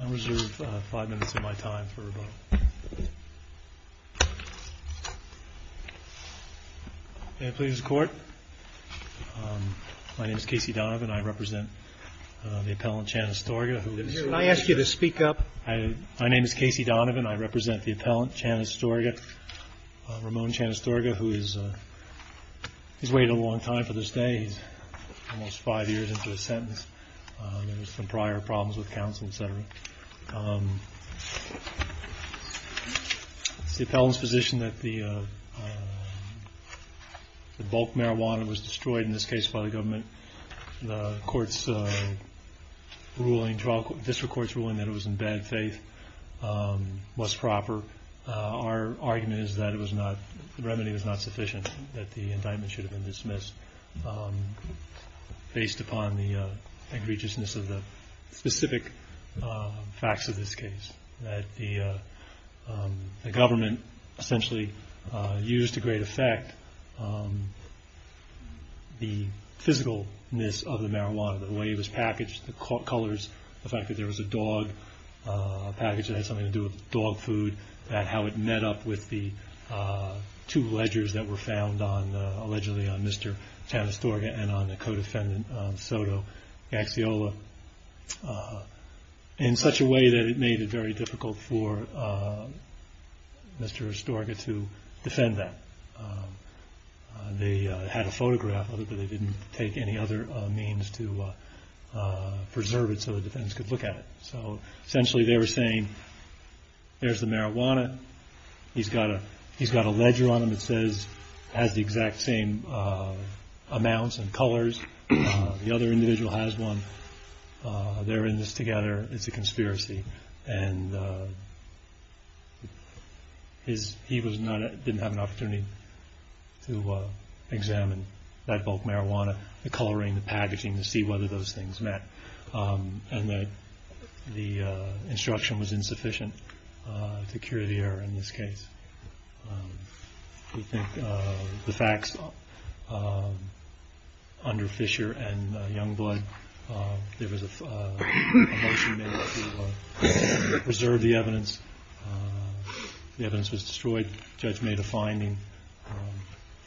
I'm going to reserve five minutes of my time for a vote. May it please the court? My name is Casey Donovan. I represent the appellant Chan-Astorga. Can I ask you to speak up? My name is Casey Donovan. I represent the appellant Chan-Astorga, Ramon Chan-Astorga, who has waited a long time for this day. He's almost five years into his sentence. There were some prior problems with counsel, etc. The appellant's position that the bulk marijuana was destroyed, in this case by the government, the district court's ruling that it was in bad faith, was proper. Our argument is that the remedy was not sufficient, that the indictment should have been dismissed based upon the egregiousness of the specific facts of this case, that the government essentially used to great effect the physicalness of the marijuana, the way it was packaged, the colors, the fact that there was a package that had something to do with dog food, how it met up with the two ledgers that were found on Mr. Chan-Astorga and on the co-defendant Soto Gaxiola, in such a way that it made it very difficult for Mr. Astorga to defend that. They had a photograph of it, but they didn't take any other means to preserve it so the defendants could look at it. Essentially they were saying, there's the marijuana, he's got a ledger on him that has the exact same amounts and colors, the other individual has one, they're in this together, it's a conspiracy. He didn't have an opportunity to examine that bulk marijuana, the coloring, the packaging, to see whether those things met. The instruction was insufficient to cure the error in this case. We think the facts under Fisher and Youngblood, there was a motion made to preserve the evidence, the evidence was destroyed, the judge made a finding,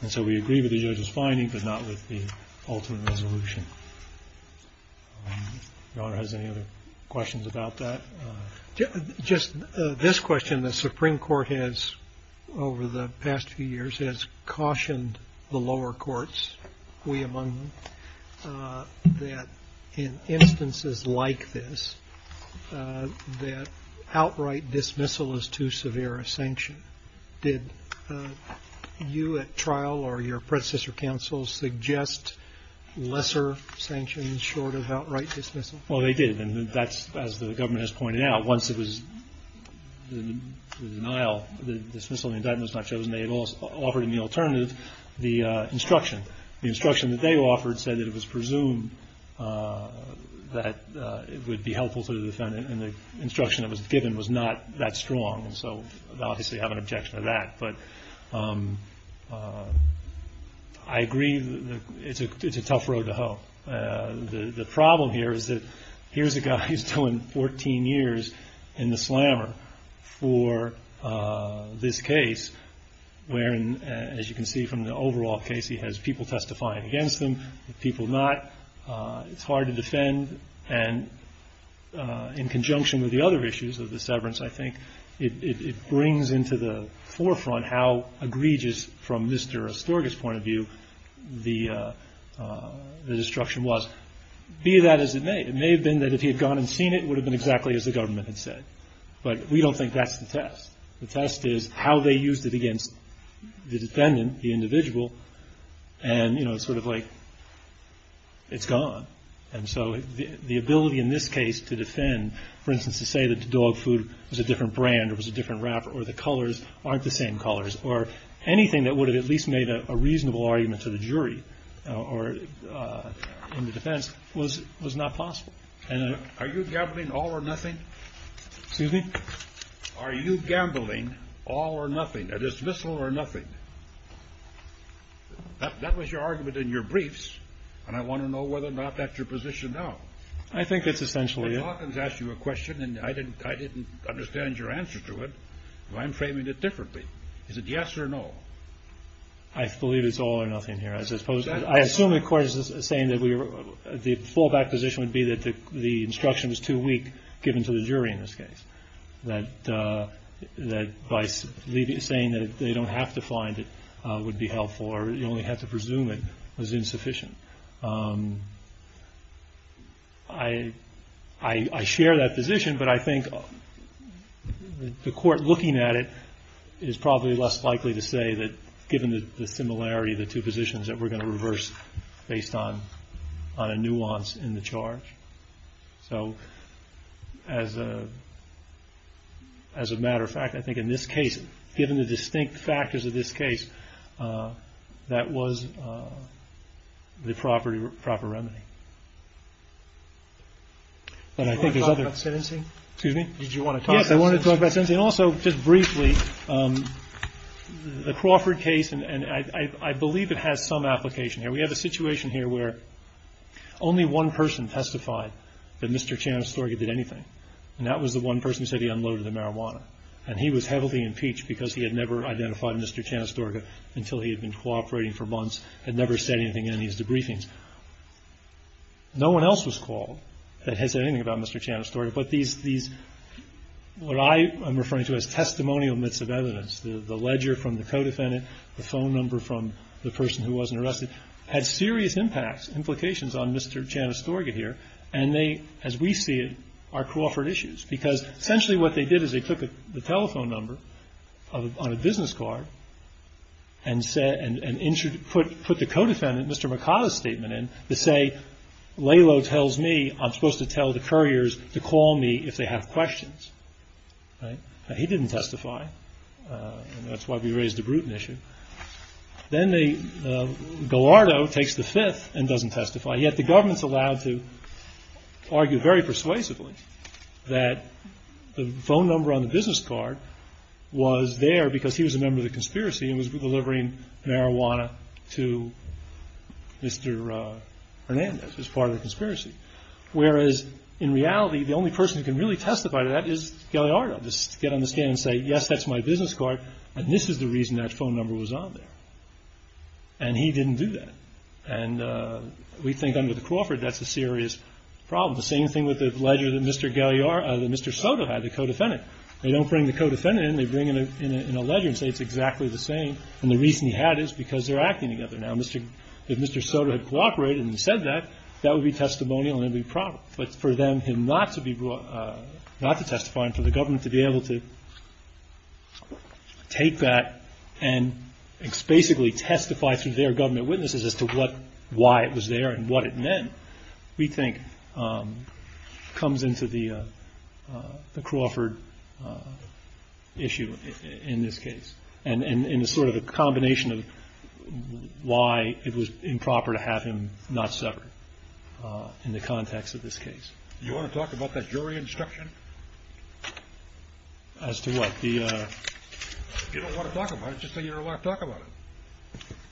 and so we agree with the judge's finding, but not with the ultimate resolution. Your Honor, has any other questions about that? Just this question, the Supreme Court has, over the past few years, has cautioned the lower courts, we among them, that in instances like this, that outright dismissal is too severe a sanction. Did you at trial or your predecessor counsel suggest lesser sanctions short of outright dismissal? Well, they did, and that's, as the government has pointed out, once it was the denial, the dismissal, the indictment was not chosen, they had offered an alternative, the instruction. The instruction that they offered said that it was presumed that it would be helpful to the defendant, and the instruction that was given was not that strong, so obviously I have an objection to that, but I agree that it's a tough road to hoe. The problem here is that here's a guy who's doing 14 years in the slammer for this case, where, as you can see from the overall case, he has people testifying against him, people not, it's hard to defend, and in conjunction with the other issues of the severance, I think, it brings into the forefront how egregious, from Mr. Astorga's point of view, the instruction was. Be that as it may, it may have been that if he had gone and seen it, it would have been exactly as the government had said, but we don't think that's the test. The test is how they used it against the defendant, the individual, and it's sort of like it's gone, and so the ability in this case to defend, for instance, to say that dog food was a different brand or was a different wrapper or the colors aren't the same colors, or anything that would have at least made a reasonable argument to the jury in the defense was not possible. Are you gambling all or nothing? Excuse me? Are you gambling all or nothing, a dismissal or nothing? That was your argument in your briefs, and I want to know whether or not that's your position now. I think it's essentially it. Mr. Hawkins asked you a question, and I didn't understand your answer to it. I'm framing it differently. Is it yes or no? I believe it's all or nothing here. I assume the court is saying that the fallback position would be that the instruction was too weak, given to the jury in this case, that by saying that they don't have to find it would be helpful or you only have to presume it was insufficient. I share that position, but I think the court looking at it is probably less likely to say that, given the similarity of the two positions that we're going to reverse based on a nuance in the charge. So, as a matter of fact, I think in this case, given the distinct factors of this case, that was the proper remedy. And also, just briefly, the Crawford case, and I believe it has some application here. We have a situation here where only one person testified that Mr. Chanastorga did anything, and that was the one person who said he unloaded the marijuana, and he was heavily impeached because he had never identified Mr. Chanastorga until he had been cooperating for months, had never said anything in any of his debriefings. No one else was called that had said anything about Mr. Chanastorga, but these, what I am referring to as testimonial myths of evidence, the ledger from the co-defendant, the phone number from the person who wasn't arrested, had serious impacts, implications on Mr. Chanastorga here, and they, as we see it, are Crawford issues, because essentially what they did is they took the telephone number on a business card and put the co-defendant, Mr. Mikada's statement in, to say, Lalo tells me I'm supposed to tell the couriers to call me if they have questions. He didn't testify, and that's why we raised the Bruton issue. Then they, Gallardo takes the fifth and doesn't testify, yet the government's allowed to argue very persuasively that the phone number on the business card was there because he was a member of the conspiracy and was delivering marijuana to Mr. Hernandez as part of the conspiracy, whereas in reality, the only person who can really testify to that is Gallardo. Just get on the stand and say, yes, that's my business card, and this is the reason that phone number was on there, and he didn't do that, and we think under the Crawford that's a serious problem. The same thing with the ledger that Mr. Soto had, the co-defendant. They don't bring the co-defendant in. They bring in a ledger and say it's exactly the same, and the reason he had is because they're acting together now. If Mr. Soto had cooperated and said that, that would be testimonial and it would be proper, but for them not to testify and for the government to be able to take that and basically testify through their government witnesses as to why it was there and what it meant, we think comes into the Crawford issue in this case and in sort of a combination of why it was improper to have him not severed in the context of this case. Do you want to talk about that jury instruction? As to what? If you don't want to talk about it, just say you don't want to talk about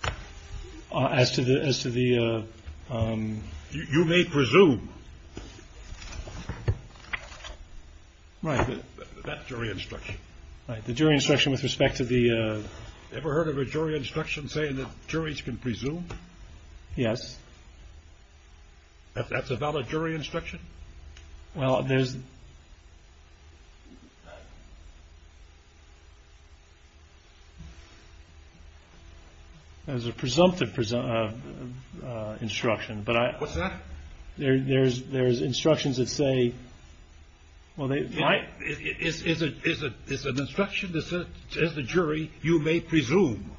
it. As to the... You may presume. Right. That jury instruction. The jury instruction with respect to the... Ever heard of a jury instruction saying that juries can presume? Yes. That's a valid jury instruction? Well, there's... There's a presumptive instruction, but I... What's that? There's instructions that say... Is it an instruction that says to the jury, you may presume?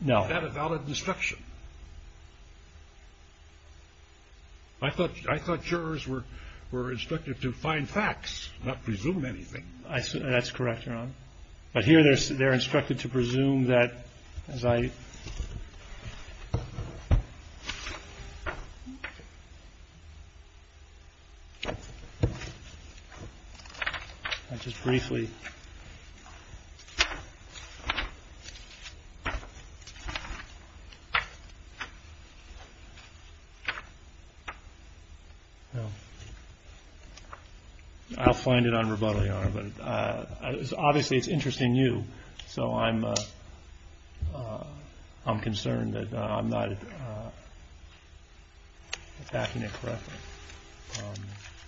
No. Is that a valid instruction? I thought jurors were instructed to find facts, not presume anything. That's correct, Your Honor. But here they're instructed to presume that, as I... I'll just briefly... I'll find it on rebuttal, Your Honor. But obviously it's interesting to you, so I'm concerned that I'm not backing it correctly.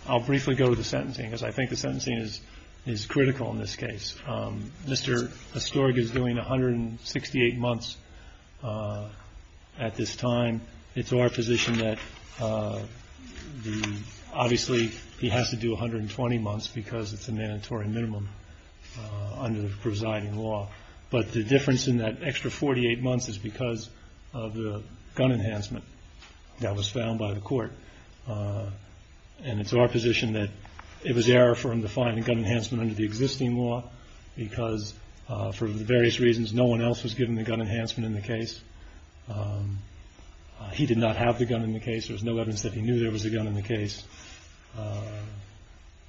I'll briefly go to the sentencing, because I think the sentencing is critical in this case. Mr. Astorg is doing 168 months at this time. It's our position that the... Obviously, he has to do 120 months, because it's a mandatory minimum under the presiding law. But the difference in that extra 48 months is because of the gun enhancement that was found by the court. And it's our position that it was error for him to find a gun enhancement under the existing law, because for the various reasons, no one else was given the gun enhancement in the case. He did not have the gun in the case. There was no evidence that he knew there was a gun in the case.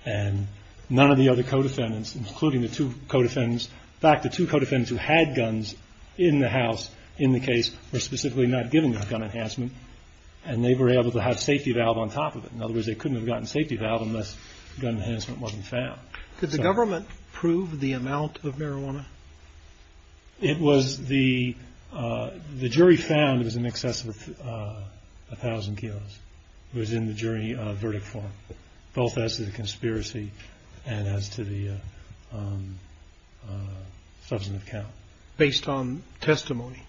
And none of the other co-defendants, including the two co-defendants... In fact, the two co-defendants who had guns in the house in the case were specifically not given the gun enhancement, and they were able to have safety valve on top of it. In other words, they couldn't have gotten safety valve unless gun enhancement wasn't found. Did the government prove the amount of marijuana? The jury found it was in excess of 1,000 kilos. It was in the jury verdict form, both as to the conspiracy and as to the substantive count. Based on testimony?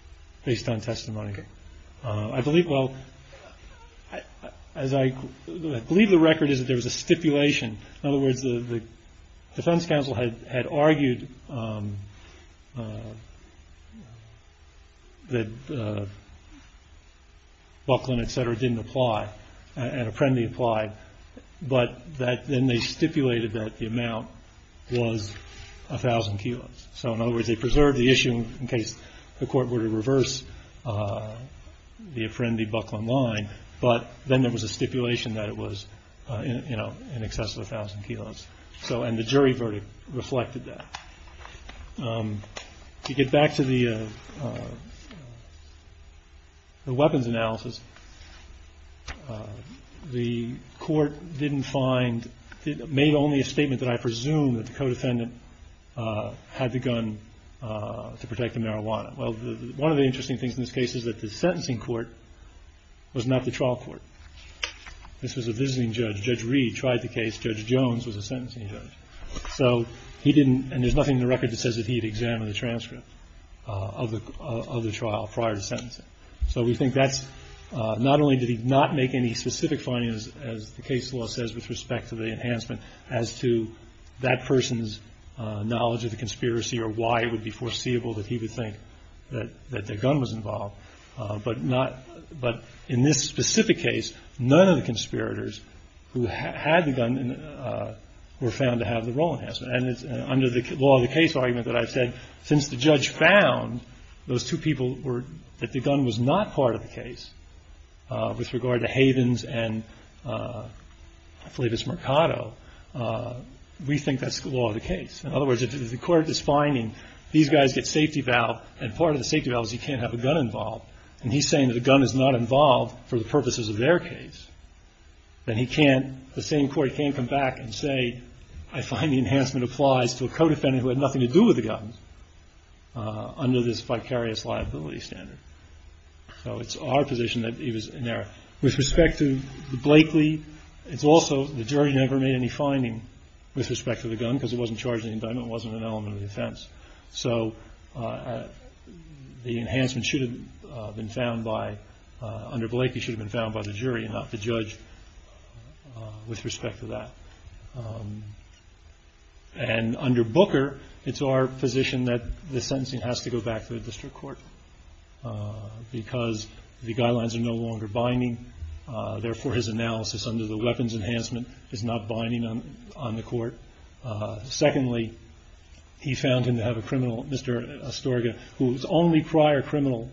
Based on testimony. I believe the record is that there was a stipulation. In other words, the defense counsel had argued that Buckland, et cetera, didn't apply, and Apprendi applied, but then they stipulated that the amount was 1,000 kilos. So in other words, they preserved the issue in case the court were to reverse the Apprendi-Buckland line, but then there was a stipulation that it was in excess of 1,000 kilos, and the jury verdict reflected that. To get back to the weapons analysis, the court made only a statement that I presume that the co-defendant had the gun to protect the marijuana. Well, one of the interesting things in this case is that the sentencing court was not the trial court. This was a visiting judge. Judge Reed tried the case. Judge Jones was a sentencing judge. So he didn't, and there's nothing in the record that says that he had examined the transcript of the trial prior to sentencing. So we think that's, not only did he not make any specific findings, as the case law says with respect to the enhancement, as to that person's knowledge of the conspiracy or why it would be foreseeable that he would think that the gun was involved. But in this specific case, none of the conspirators who had the gun were found to have the role enhancement. And under the law of the case argument that I've said, since the judge found those two people that the gun was not part of the case, with regard to Havens and Flavius Mercado, we think that's the law of the case. In other words, if the court is finding these guys get safety valve, and part of the safety valve is you can't have a gun involved, and he's saying that the gun is not involved for the purposes of their case, then he can't, the same court can't come back and say, I find the enhancement applies to a co-defendant who had nothing to do with the gun under this vicarious liability standard. So it's our position that he was in there. With respect to Blakely, it's also the jury never made any finding with respect to the gun, because it wasn't charged in the indictment, it wasn't an element of the offense. So the enhancement should have been found by, under Blakely, should have been found by the jury and not the judge with respect to that. And under Booker, it's our position that the sentencing has to go back to the district court, because the guidelines are no longer binding, therefore his analysis under the weapons enhancement is not binding on the court. Secondly, he found him to have a criminal, Mr. Astorga, whose only prior criminal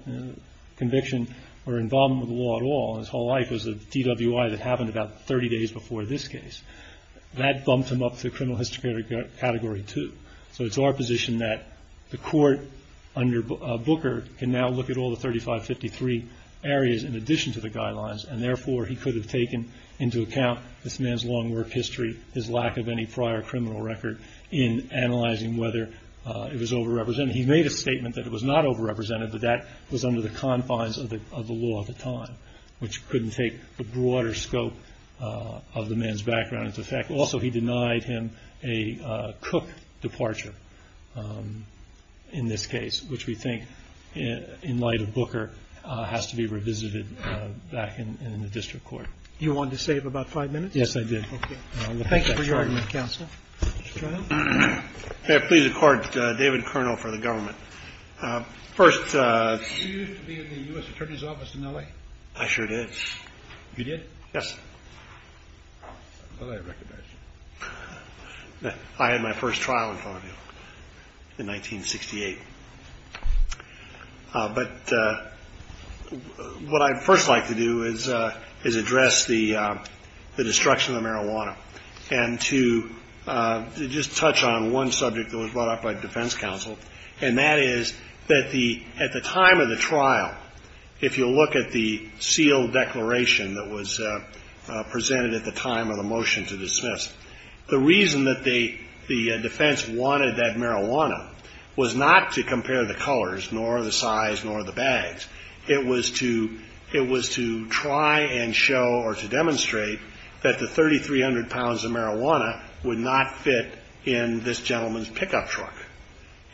conviction were involved with the law at all, and his whole life was a DWI that happened about 30 days before this case. That bumped him up to criminal history category 2. So it's our position that the court, under Booker, can now look at all the 3553 areas in addition to the guidelines, and therefore he could have taken into account this man's long work history, his lack of any prior criminal record, in analyzing whether it was over-represented. He made a statement that it was not over-represented, but that was under the confines of the law at the time, which couldn't take the broader scope of the man's background into effect. Also, he denied him a Cook departure in this case, which we think, in light of Booker, has to be revisited back in the district court. Roberts. You wanted to save about five minutes? Carvin. Yes, I did. Thank you for your argument, counsel. Carvin. May I please accord David Kernel for the government? You used to be in the U.S. Attorney's Office in L.A.? I sure did. You did? Yes. I thought I recognized you. I had my first trial in Columbia in 1968. But what I'd first like to do is address the destruction of marijuana and to just touch on one subject that was brought up by defense counsel, and that is that at the time of the trial, if you'll look at the sealed declaration that was presented at the time of the motion to dismiss, the reason that the defense wanted that marijuana was not to compare the colors, nor the size, nor the bags. It was to try and show, or to demonstrate, that the 3,300 pounds of marijuana would not fit in this gentleman's pickup truck.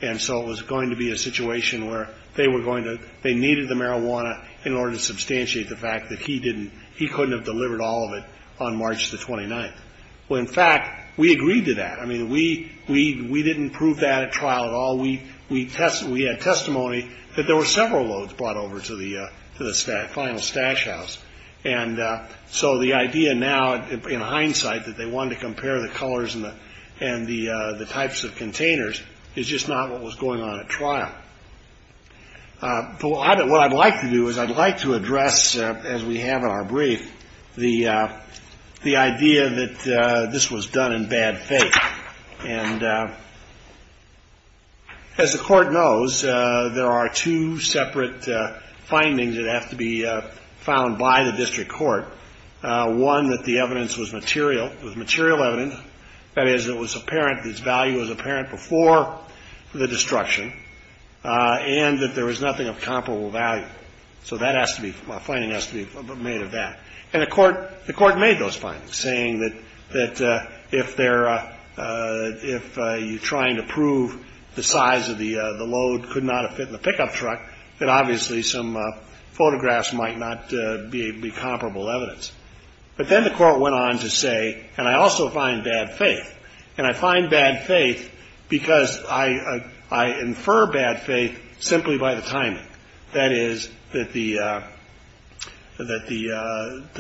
And so it was going to be a situation where they needed the marijuana in order to substantiate the fact that he couldn't have delivered all of it on March the 29th. Well, in fact, we agreed to that. I mean, we didn't prove that at trial at all. We had testimony that there were several loads brought over to the final stash house. And so the idea now, in hindsight, that they wanted to compare the colors and the types of containers is just not what was going on at trial. But what I'd like to do is I'd like to address, as we have in our brief, the idea that this was done in bad faith. And as the Court knows, there are two separate findings that have to be found by the district court. One, that the evidence was material. It was material evidence. That is, it was apparent that its value was apparent before the destruction, and that there was nothing of comparable value. So that has to be, a finding has to be made of that. And the Court made those findings, saying that if you're trying to prove the size of the load could not have fit in the pickup truck, then obviously some photographs might not be comparable evidence. But then the Court went on to say, and I also find bad faith. And I find bad faith because I infer bad faith simply by the timing. That is, that the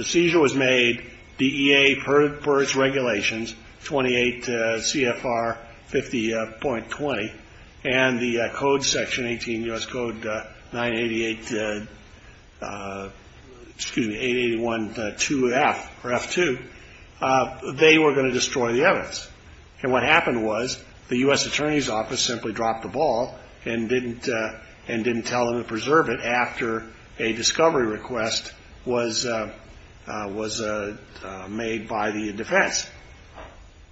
seizure was made, the EA per its regulations, 28 CFR 50.20, and the code section, 18 U.S. Code 988, excuse me, 881.2F or F2, they were going to destroy the evidence. And what happened was the U.S. Attorney's Office simply dropped the ball and didn't tell them to preserve it after a discovery request was made by the defense.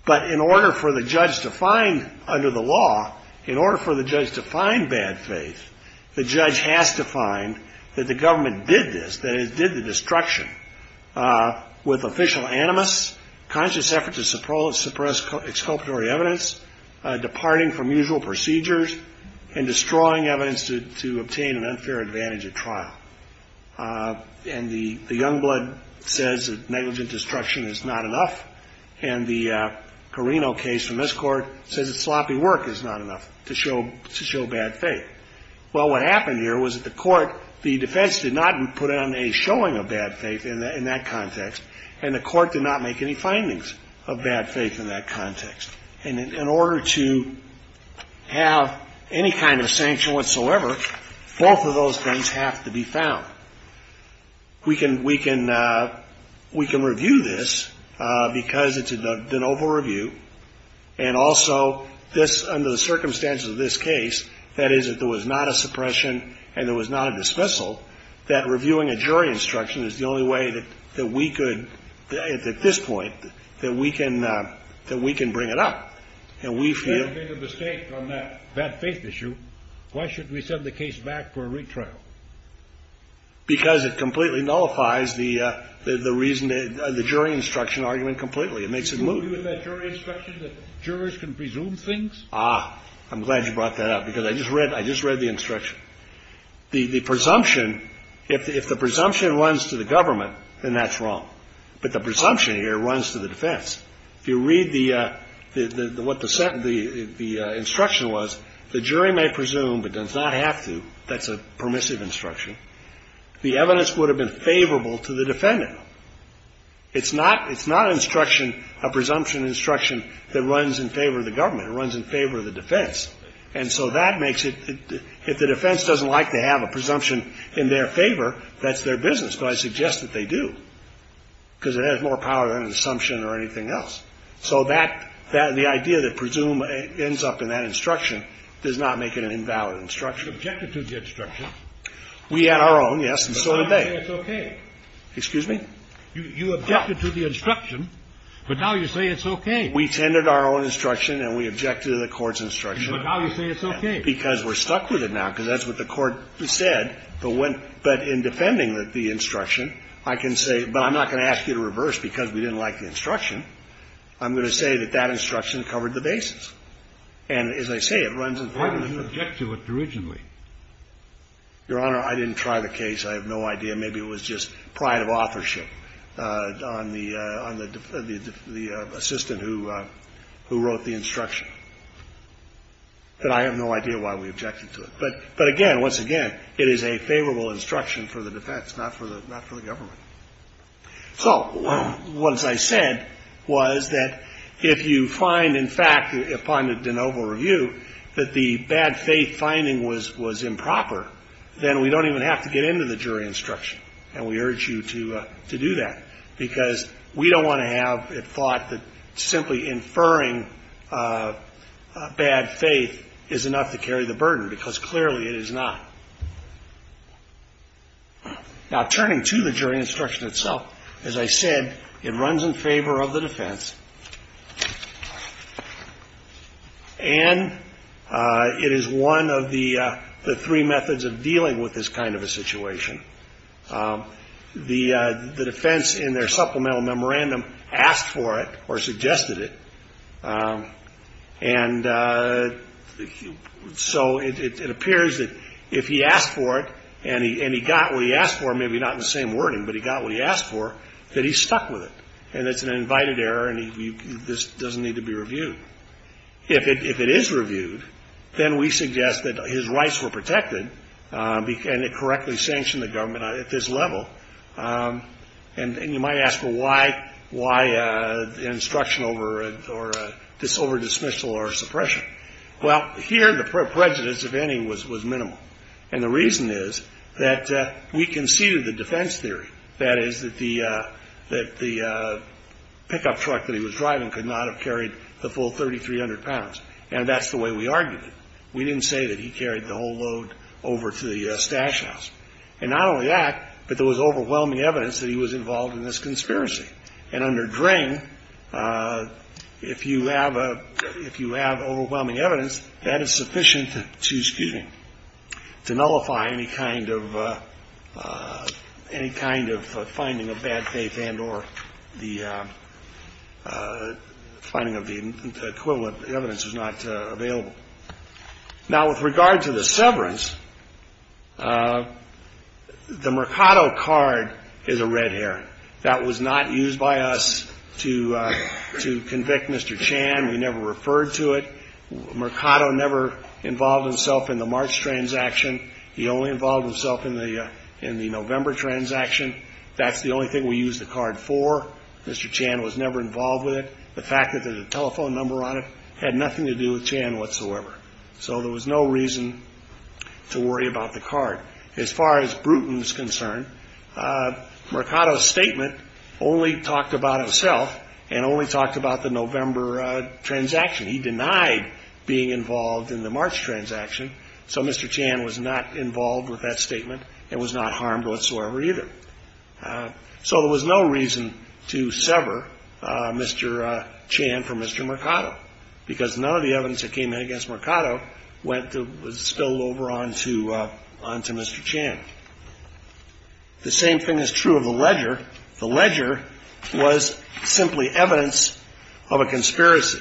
But in order for the judge to find, under the law, in order for the judge to find bad faith, the judge has to find that the government did this, that it did the destruction with official animus, conscious effort to suppress exculpatory evidence, departing from usual procedures, and destroying evidence to obtain an unfair advantage at trial. And the Youngblood says that negligent destruction is not enough, and the Carino case from this Court says that sloppy work is not enough to show bad faith. Well, what happened here was that the Court, the defense did not put on a showing of bad faith in that context, and the Court did not make any findings of bad faith in that context. And in order to have any kind of sanction whatsoever, both of those things have to be found. We can review this because it's an Oval Review, and also this, under the circumstances of this case, that is, if there was not a suppression and there was not a dismissal, that reviewing a jury instruction is the only way that we could, at this point, that we can bring it up. And we feel— You made a mistake on that bad faith issue. Why should we send the case back for a retrial? Because it completely nullifies the reason, the jury instruction argument completely. It makes it moot. Do you agree with that jury instruction that jurors can presume things? Ah, I'm glad you brought that up, because I just read the instruction. The presumption, if the presumption runs to the government, then that's wrong. But the presumption here runs to the defense. If you read what the instruction was, the jury may presume, but does not have to. That's a permissive instruction. The evidence would have been favorable to the defendant. It's not an instruction, a presumption instruction, that runs in favor of the government. It runs in favor of the defense. And so that makes it, if the defense doesn't like to have a presumption in their favor, that's their business. But I suggest that they do, because it has more power than an assumption or anything else. So that, the idea that presume ends up in that instruction does not make it an invalid instruction. You objected to the instruction. We had our own, yes, and so did they. But now you say it's okay. Excuse me? You objected to the instruction, but now you say it's okay. We tended our own instruction, and we objected to the court's instruction. But now you say it's okay. Because we're stuck with it now, because that's what the court said. But in defending the instruction, I can say, but I'm not going to ask you to reverse because we didn't like the instruction. I'm going to say that that instruction covered the basis. And as I say, it runs in favor of the defense. Why didn't you object to it originally? Your Honor, I didn't try the case. I have no idea. Maybe it was just pride of authorship on the assistant who wrote the instruction. But I have no idea why we objected to it. But again, once again, it is a favorable instruction for the defense, not for the government. So what I said was that if you find, in fact, upon the de novo review, that the bad faith finding was improper, then we don't even have to get into the jury instruction, and we urge you to do that, because we don't want to have it thought that simply inferring bad faith is enough to carry the burden, because clearly it is not. Now, turning to the jury instruction itself, as I said, it runs in favor of the defense, and it is one of the three methods of dealing with this kind of a situation. The defense, in their supplemental memorandum, asked for it or suggested it, and so it appears that if he asked for it and he got what he asked for, maybe not in the same wording, but he got what he asked for, that he's stuck with it, and it's an invited error, and this doesn't need to be reviewed. If it is reviewed, then we suggest that his rights were protected and it correctly sanctioned the government at this level. And you might ask, well, why instruction over dismissal or suppression? Well, here the prejudice, if any, was minimal, and the reason is that we conceded the defense theory, that is, that the pickup truck that he was driving could not have carried the full 3,300 pounds, and that's the way we argued it. We didn't say that he carried the whole load over to the stash house. And not only that, but there was overwhelming evidence that he was involved in this conspiracy. And under Dring, if you have overwhelming evidence, that is sufficient to nullify any kind of finding of bad faith and or the finding of the equivalent evidence is not available. Now, with regard to the severance, the Mercado card is a red herring. That was not used by us to convict Mr. Chan. We never referred to it. Mercado never involved himself in the March transaction. He only involved himself in the November transaction. That's the only thing we used the card for. Mr. Chan was never involved with it. The fact that there's a telephone number on it had nothing to do with Chan whatsoever. So there was no reason to worry about the card. As far as Bruton is concerned, Mercado's statement only talked about himself and only talked about the November transaction. He denied being involved in the March transaction, so Mr. Chan was not involved with that statement and was not harmed whatsoever either. So there was no reason to sever Mr. Chan from Mr. Mercado because none of the evidence that came in against Mercado was spilled over onto Mr. Chan. The same thing is true of the ledger. The ledger was simply evidence of a conspiracy.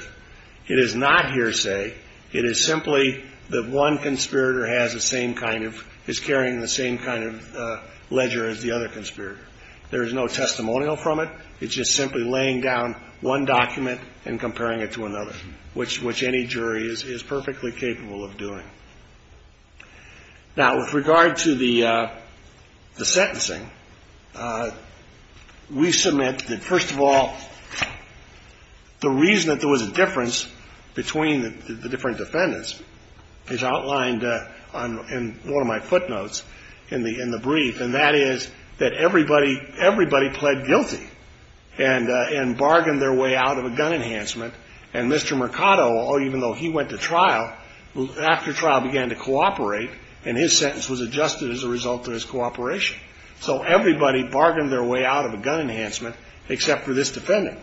It is not hearsay. It is simply that one conspirator has the same kind of – is carrying the same kind of ledger as the other conspirator. There is no testimonial from it. It's just simply laying down one document and comparing it to another, which any jury is perfectly capable of doing. Now, with regard to the sentencing, we submit that, first of all, the reason that there was a difference between the different defendants is outlined in one of my footnotes in the brief, and that is that everybody pled guilty and bargained their way out of a gun enhancement, and Mr. Mercado, even though he went to trial, after trial began to cooperate, and his sentence was adjusted as a result of his cooperation. So everybody bargained their way out of a gun enhancement except for this defendant.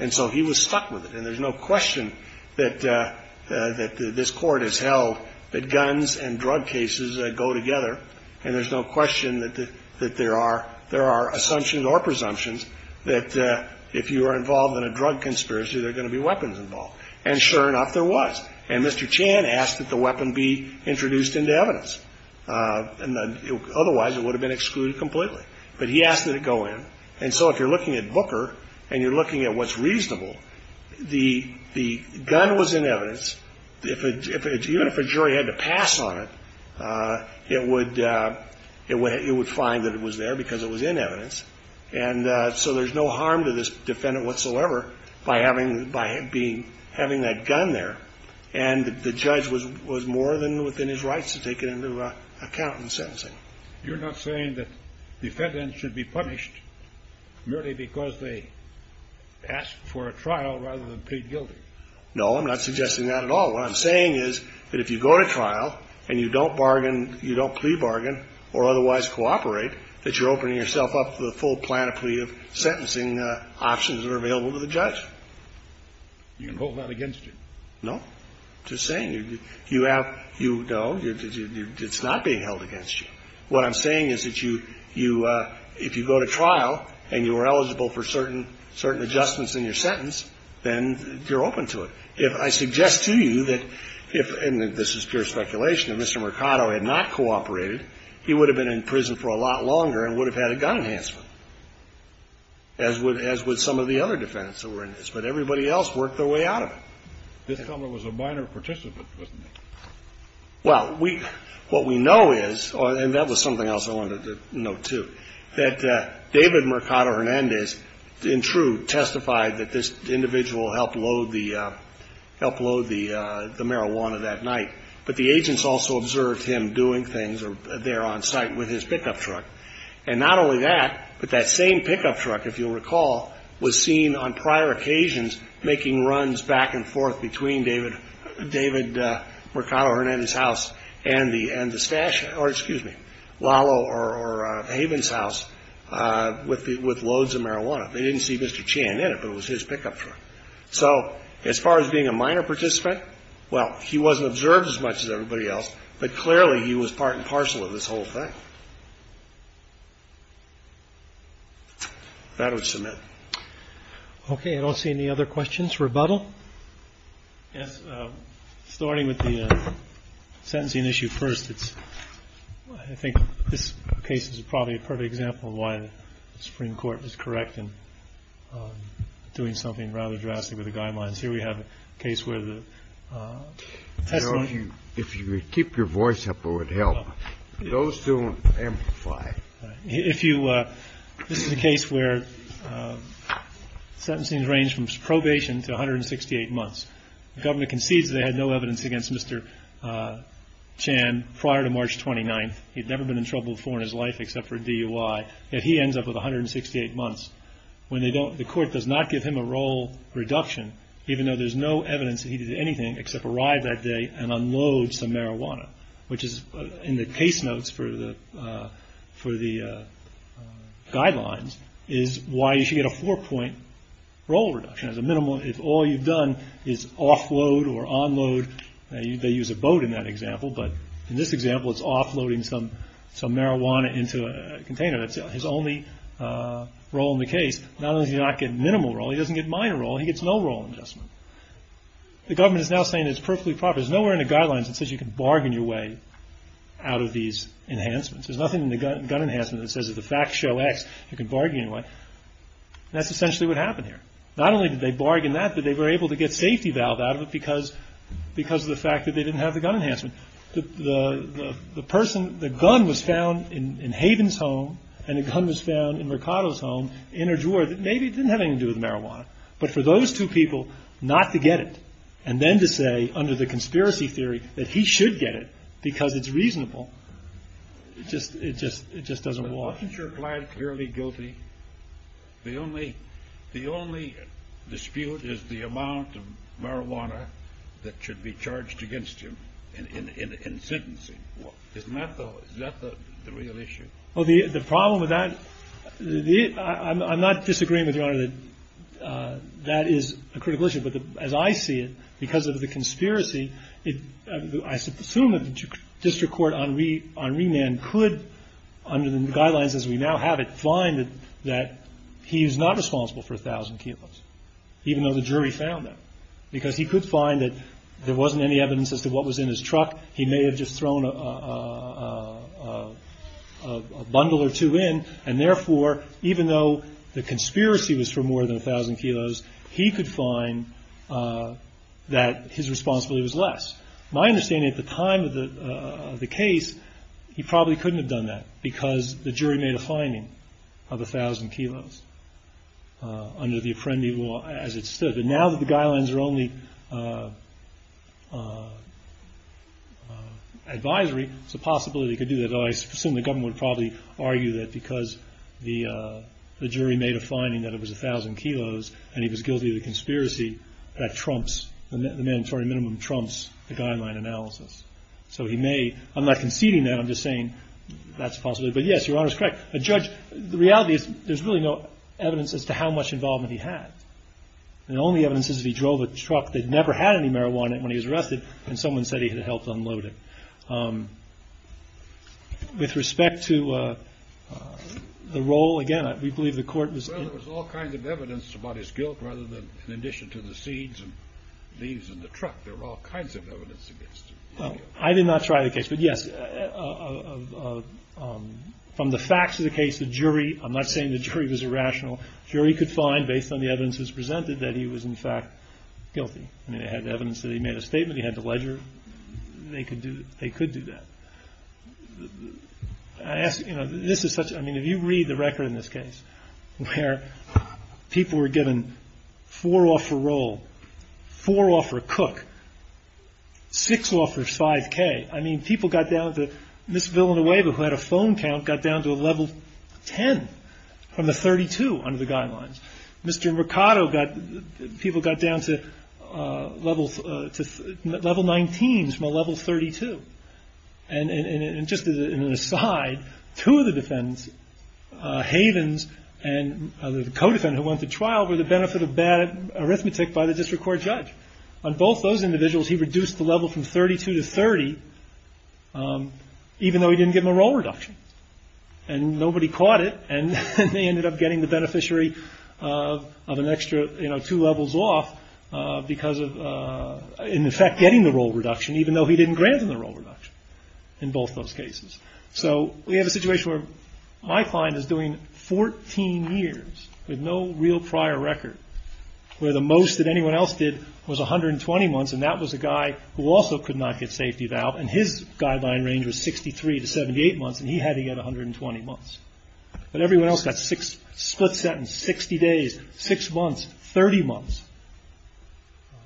And so he was stuck with it. And there's no question that this Court has held that guns and drug cases go together, and there's no question that there are assumptions or presumptions that if you are involved in a drug conspiracy, there are going to be weapons involved. And sure enough, there was. And Mr. Chan asked that the weapon be introduced into evidence. Otherwise, it would have been excluded completely. But he asked that it go in. And so if you're looking at Booker and you're looking at what's reasonable, the gun was in evidence. Even if a jury had to pass on it, it would find that it was there because it was in evidence. And so there's no harm to this defendant whatsoever by having that gun there. And the judge was more than within his rights to take it into account in sentencing. You're not saying that defendants should be punished merely because they asked for a trial rather than plead guilty? No, I'm not suggesting that at all. What I'm saying is that if you go to trial and you don't bargain, you don't plea bargain or otherwise cooperate, that you're opening yourself up to the full plan of plea of sentencing options that are available to the judge. You can hold that against you? No. I'm just saying you have to know it's not being held against you. What I'm saying is that you go to trial and you are eligible for certain adjustments in your sentence, then you're open to it. I suggest to you that if, and this is pure speculation, if Mr. Mercado had not cooperated, he would have been in prison for a lot longer and would have had a gun enhancement, as would some of the other defendants that were in this. But everybody else worked their way out of it. This fellow was a minor participant, wasn't he? Well, what we know is, and that was something else I wanted to note, too, that David Mercado Hernandez in true testified that this individual helped load the marijuana that night. But the agents also observed him doing things there on site with his pickup truck. And not only that, but that same pickup truck, if you'll recall, was seen on prior occasions making runs back and forth between David Mercado Hernandez's house and the stash or, excuse me, Lalo or Haven's house with loads of marijuana. They didn't see Mr. Chan in it, but it was his pickup truck. So as far as being a minor participant, well, he wasn't observed as much as everybody else, but clearly he was part and parcel of this whole thing. That would submit. Okay. I don't see any other questions. Rebuttal? Yes. Starting with the sentencing issue first. I think this case is probably a perfect example of why the Supreme Court is correct in doing something rather drastic with the guidelines. Here we have a case where the testimony. If you would keep your voice up, it would help. Those don't amplify. This is a case where sentencing range from probation to 168 months. The government concedes they had no evidence against Mr. Chan prior to March 29th. He'd never been in trouble before in his life except for DUI. Yet he ends up with 168 months. The court does not give him a roll reduction, even though there's no evidence that he did anything except arrive that day and unload some marijuana, which is in the case notes for the guidelines, is why you should get a four-point roll reduction. If all you've done is offload or unload, they use a boat in that example, but in this example it's offloading some marijuana into a container. That's his only roll in the case. Not only does he not get minimal roll, he doesn't get minor roll. He gets no roll adjustment. The government is now saying it's perfectly proper. There's nowhere in the guidelines that says you can bargain your way out of these enhancements. There's nothing in the gun enhancement that says if the facts show X, you can bargain your way. That's essentially what happened here. Not only did they bargain that, but they were able to get safety valve out of it because of the fact that they didn't have the gun enhancement. The gun was found in Haven's home, and the gun was found in Mercado's home in a drawer that maybe didn't have anything to do with marijuana. But for those two people not to get it, and then to say under the conspiracy theory that he should get it because it's reasonable, it just doesn't work. The only dispute is the amount of marijuana that should be charged against him in sentencing. Isn't that the real issue? Well, the problem with that, I'm not disagreeing with Your Honor that that is a critical issue. But as I see it, because of the conspiracy, I assume that the district court on remand could, under the guidelines as we now have it, find that he's not responsible for 1,000 kilos, even though the jury found that. Because he could find that there wasn't any evidence as to what was in his truck. He may have just thrown a bundle or two in. And therefore, even though the conspiracy was for more than 1,000 kilos, he could find that his responsibility was less. My understanding at the time of the case, he probably couldn't have done that because the jury made a finding of 1,000 kilos under the Apprendi law as it stood. But now that the guidelines are only advisory, it's a possibility he could do that. I assume the government would probably argue that because the jury made a finding that it was 1,000 kilos and he was guilty of the conspiracy, the mandatory minimum trumps the guideline analysis. I'm not conceding that, I'm just saying that's a possibility. But yes, Your Honor is correct. The reality is there's really no evidence as to how much involvement he had. The only evidence is he drove a truck that never had any marijuana when he was arrested and someone said he had helped unload it. With respect to the role, again, we believe the court was... Well, there was all kinds of evidence about his guilt rather than in addition to the seeds and leaves in the truck. There were all kinds of evidence against him. I did not try the case, but yes, from the facts of the case, the jury, I'm not saying the jury was irrational. The jury could find, based on the evidence that was presented, that he was, in fact, guilty. I mean, they had evidence that he made a statement, he had to ledger. They could do that. I ask, you know, this is such... I mean, if you read the record in this case where people were given four off a roll, four off for a cook, six off for 5K. I mean, people got down to... Mr. Mercado got... People got down to level 19s from a level 32. And just as an aside, two of the defendants, Havens and the co-defendant who went to trial, were the benefit of bad arithmetic by the district court judge. On both those individuals, he reduced the level from 32 to 30, even though he didn't give them a roll reduction. And nobody caught it, and they ended up getting the beneficiary of an extra, you know, two levels off because of, in effect, getting the roll reduction, even though he didn't grant them the roll reduction in both those cases. So we have a situation where my client is doing 14 years with no real prior record, where the most that anyone else did was 120 months, and that was a guy who also could not get safety eval, and his guideline range was 63 to 78 months, and he had to get 120 months. But everyone else got six split sentences, 60 days, six months, 30 months.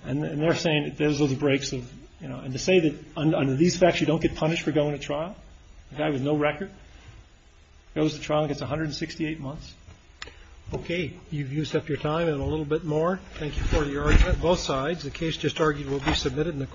And they're saying that those are the breaks of, you know, and to say that under these facts you don't get punished for going to trial, a guy with no record, goes to trial and gets 168 months. Okay, you've used up your time and a little bit more. Thank you for the argument. Both sides, the case just argued will be submitted in the court.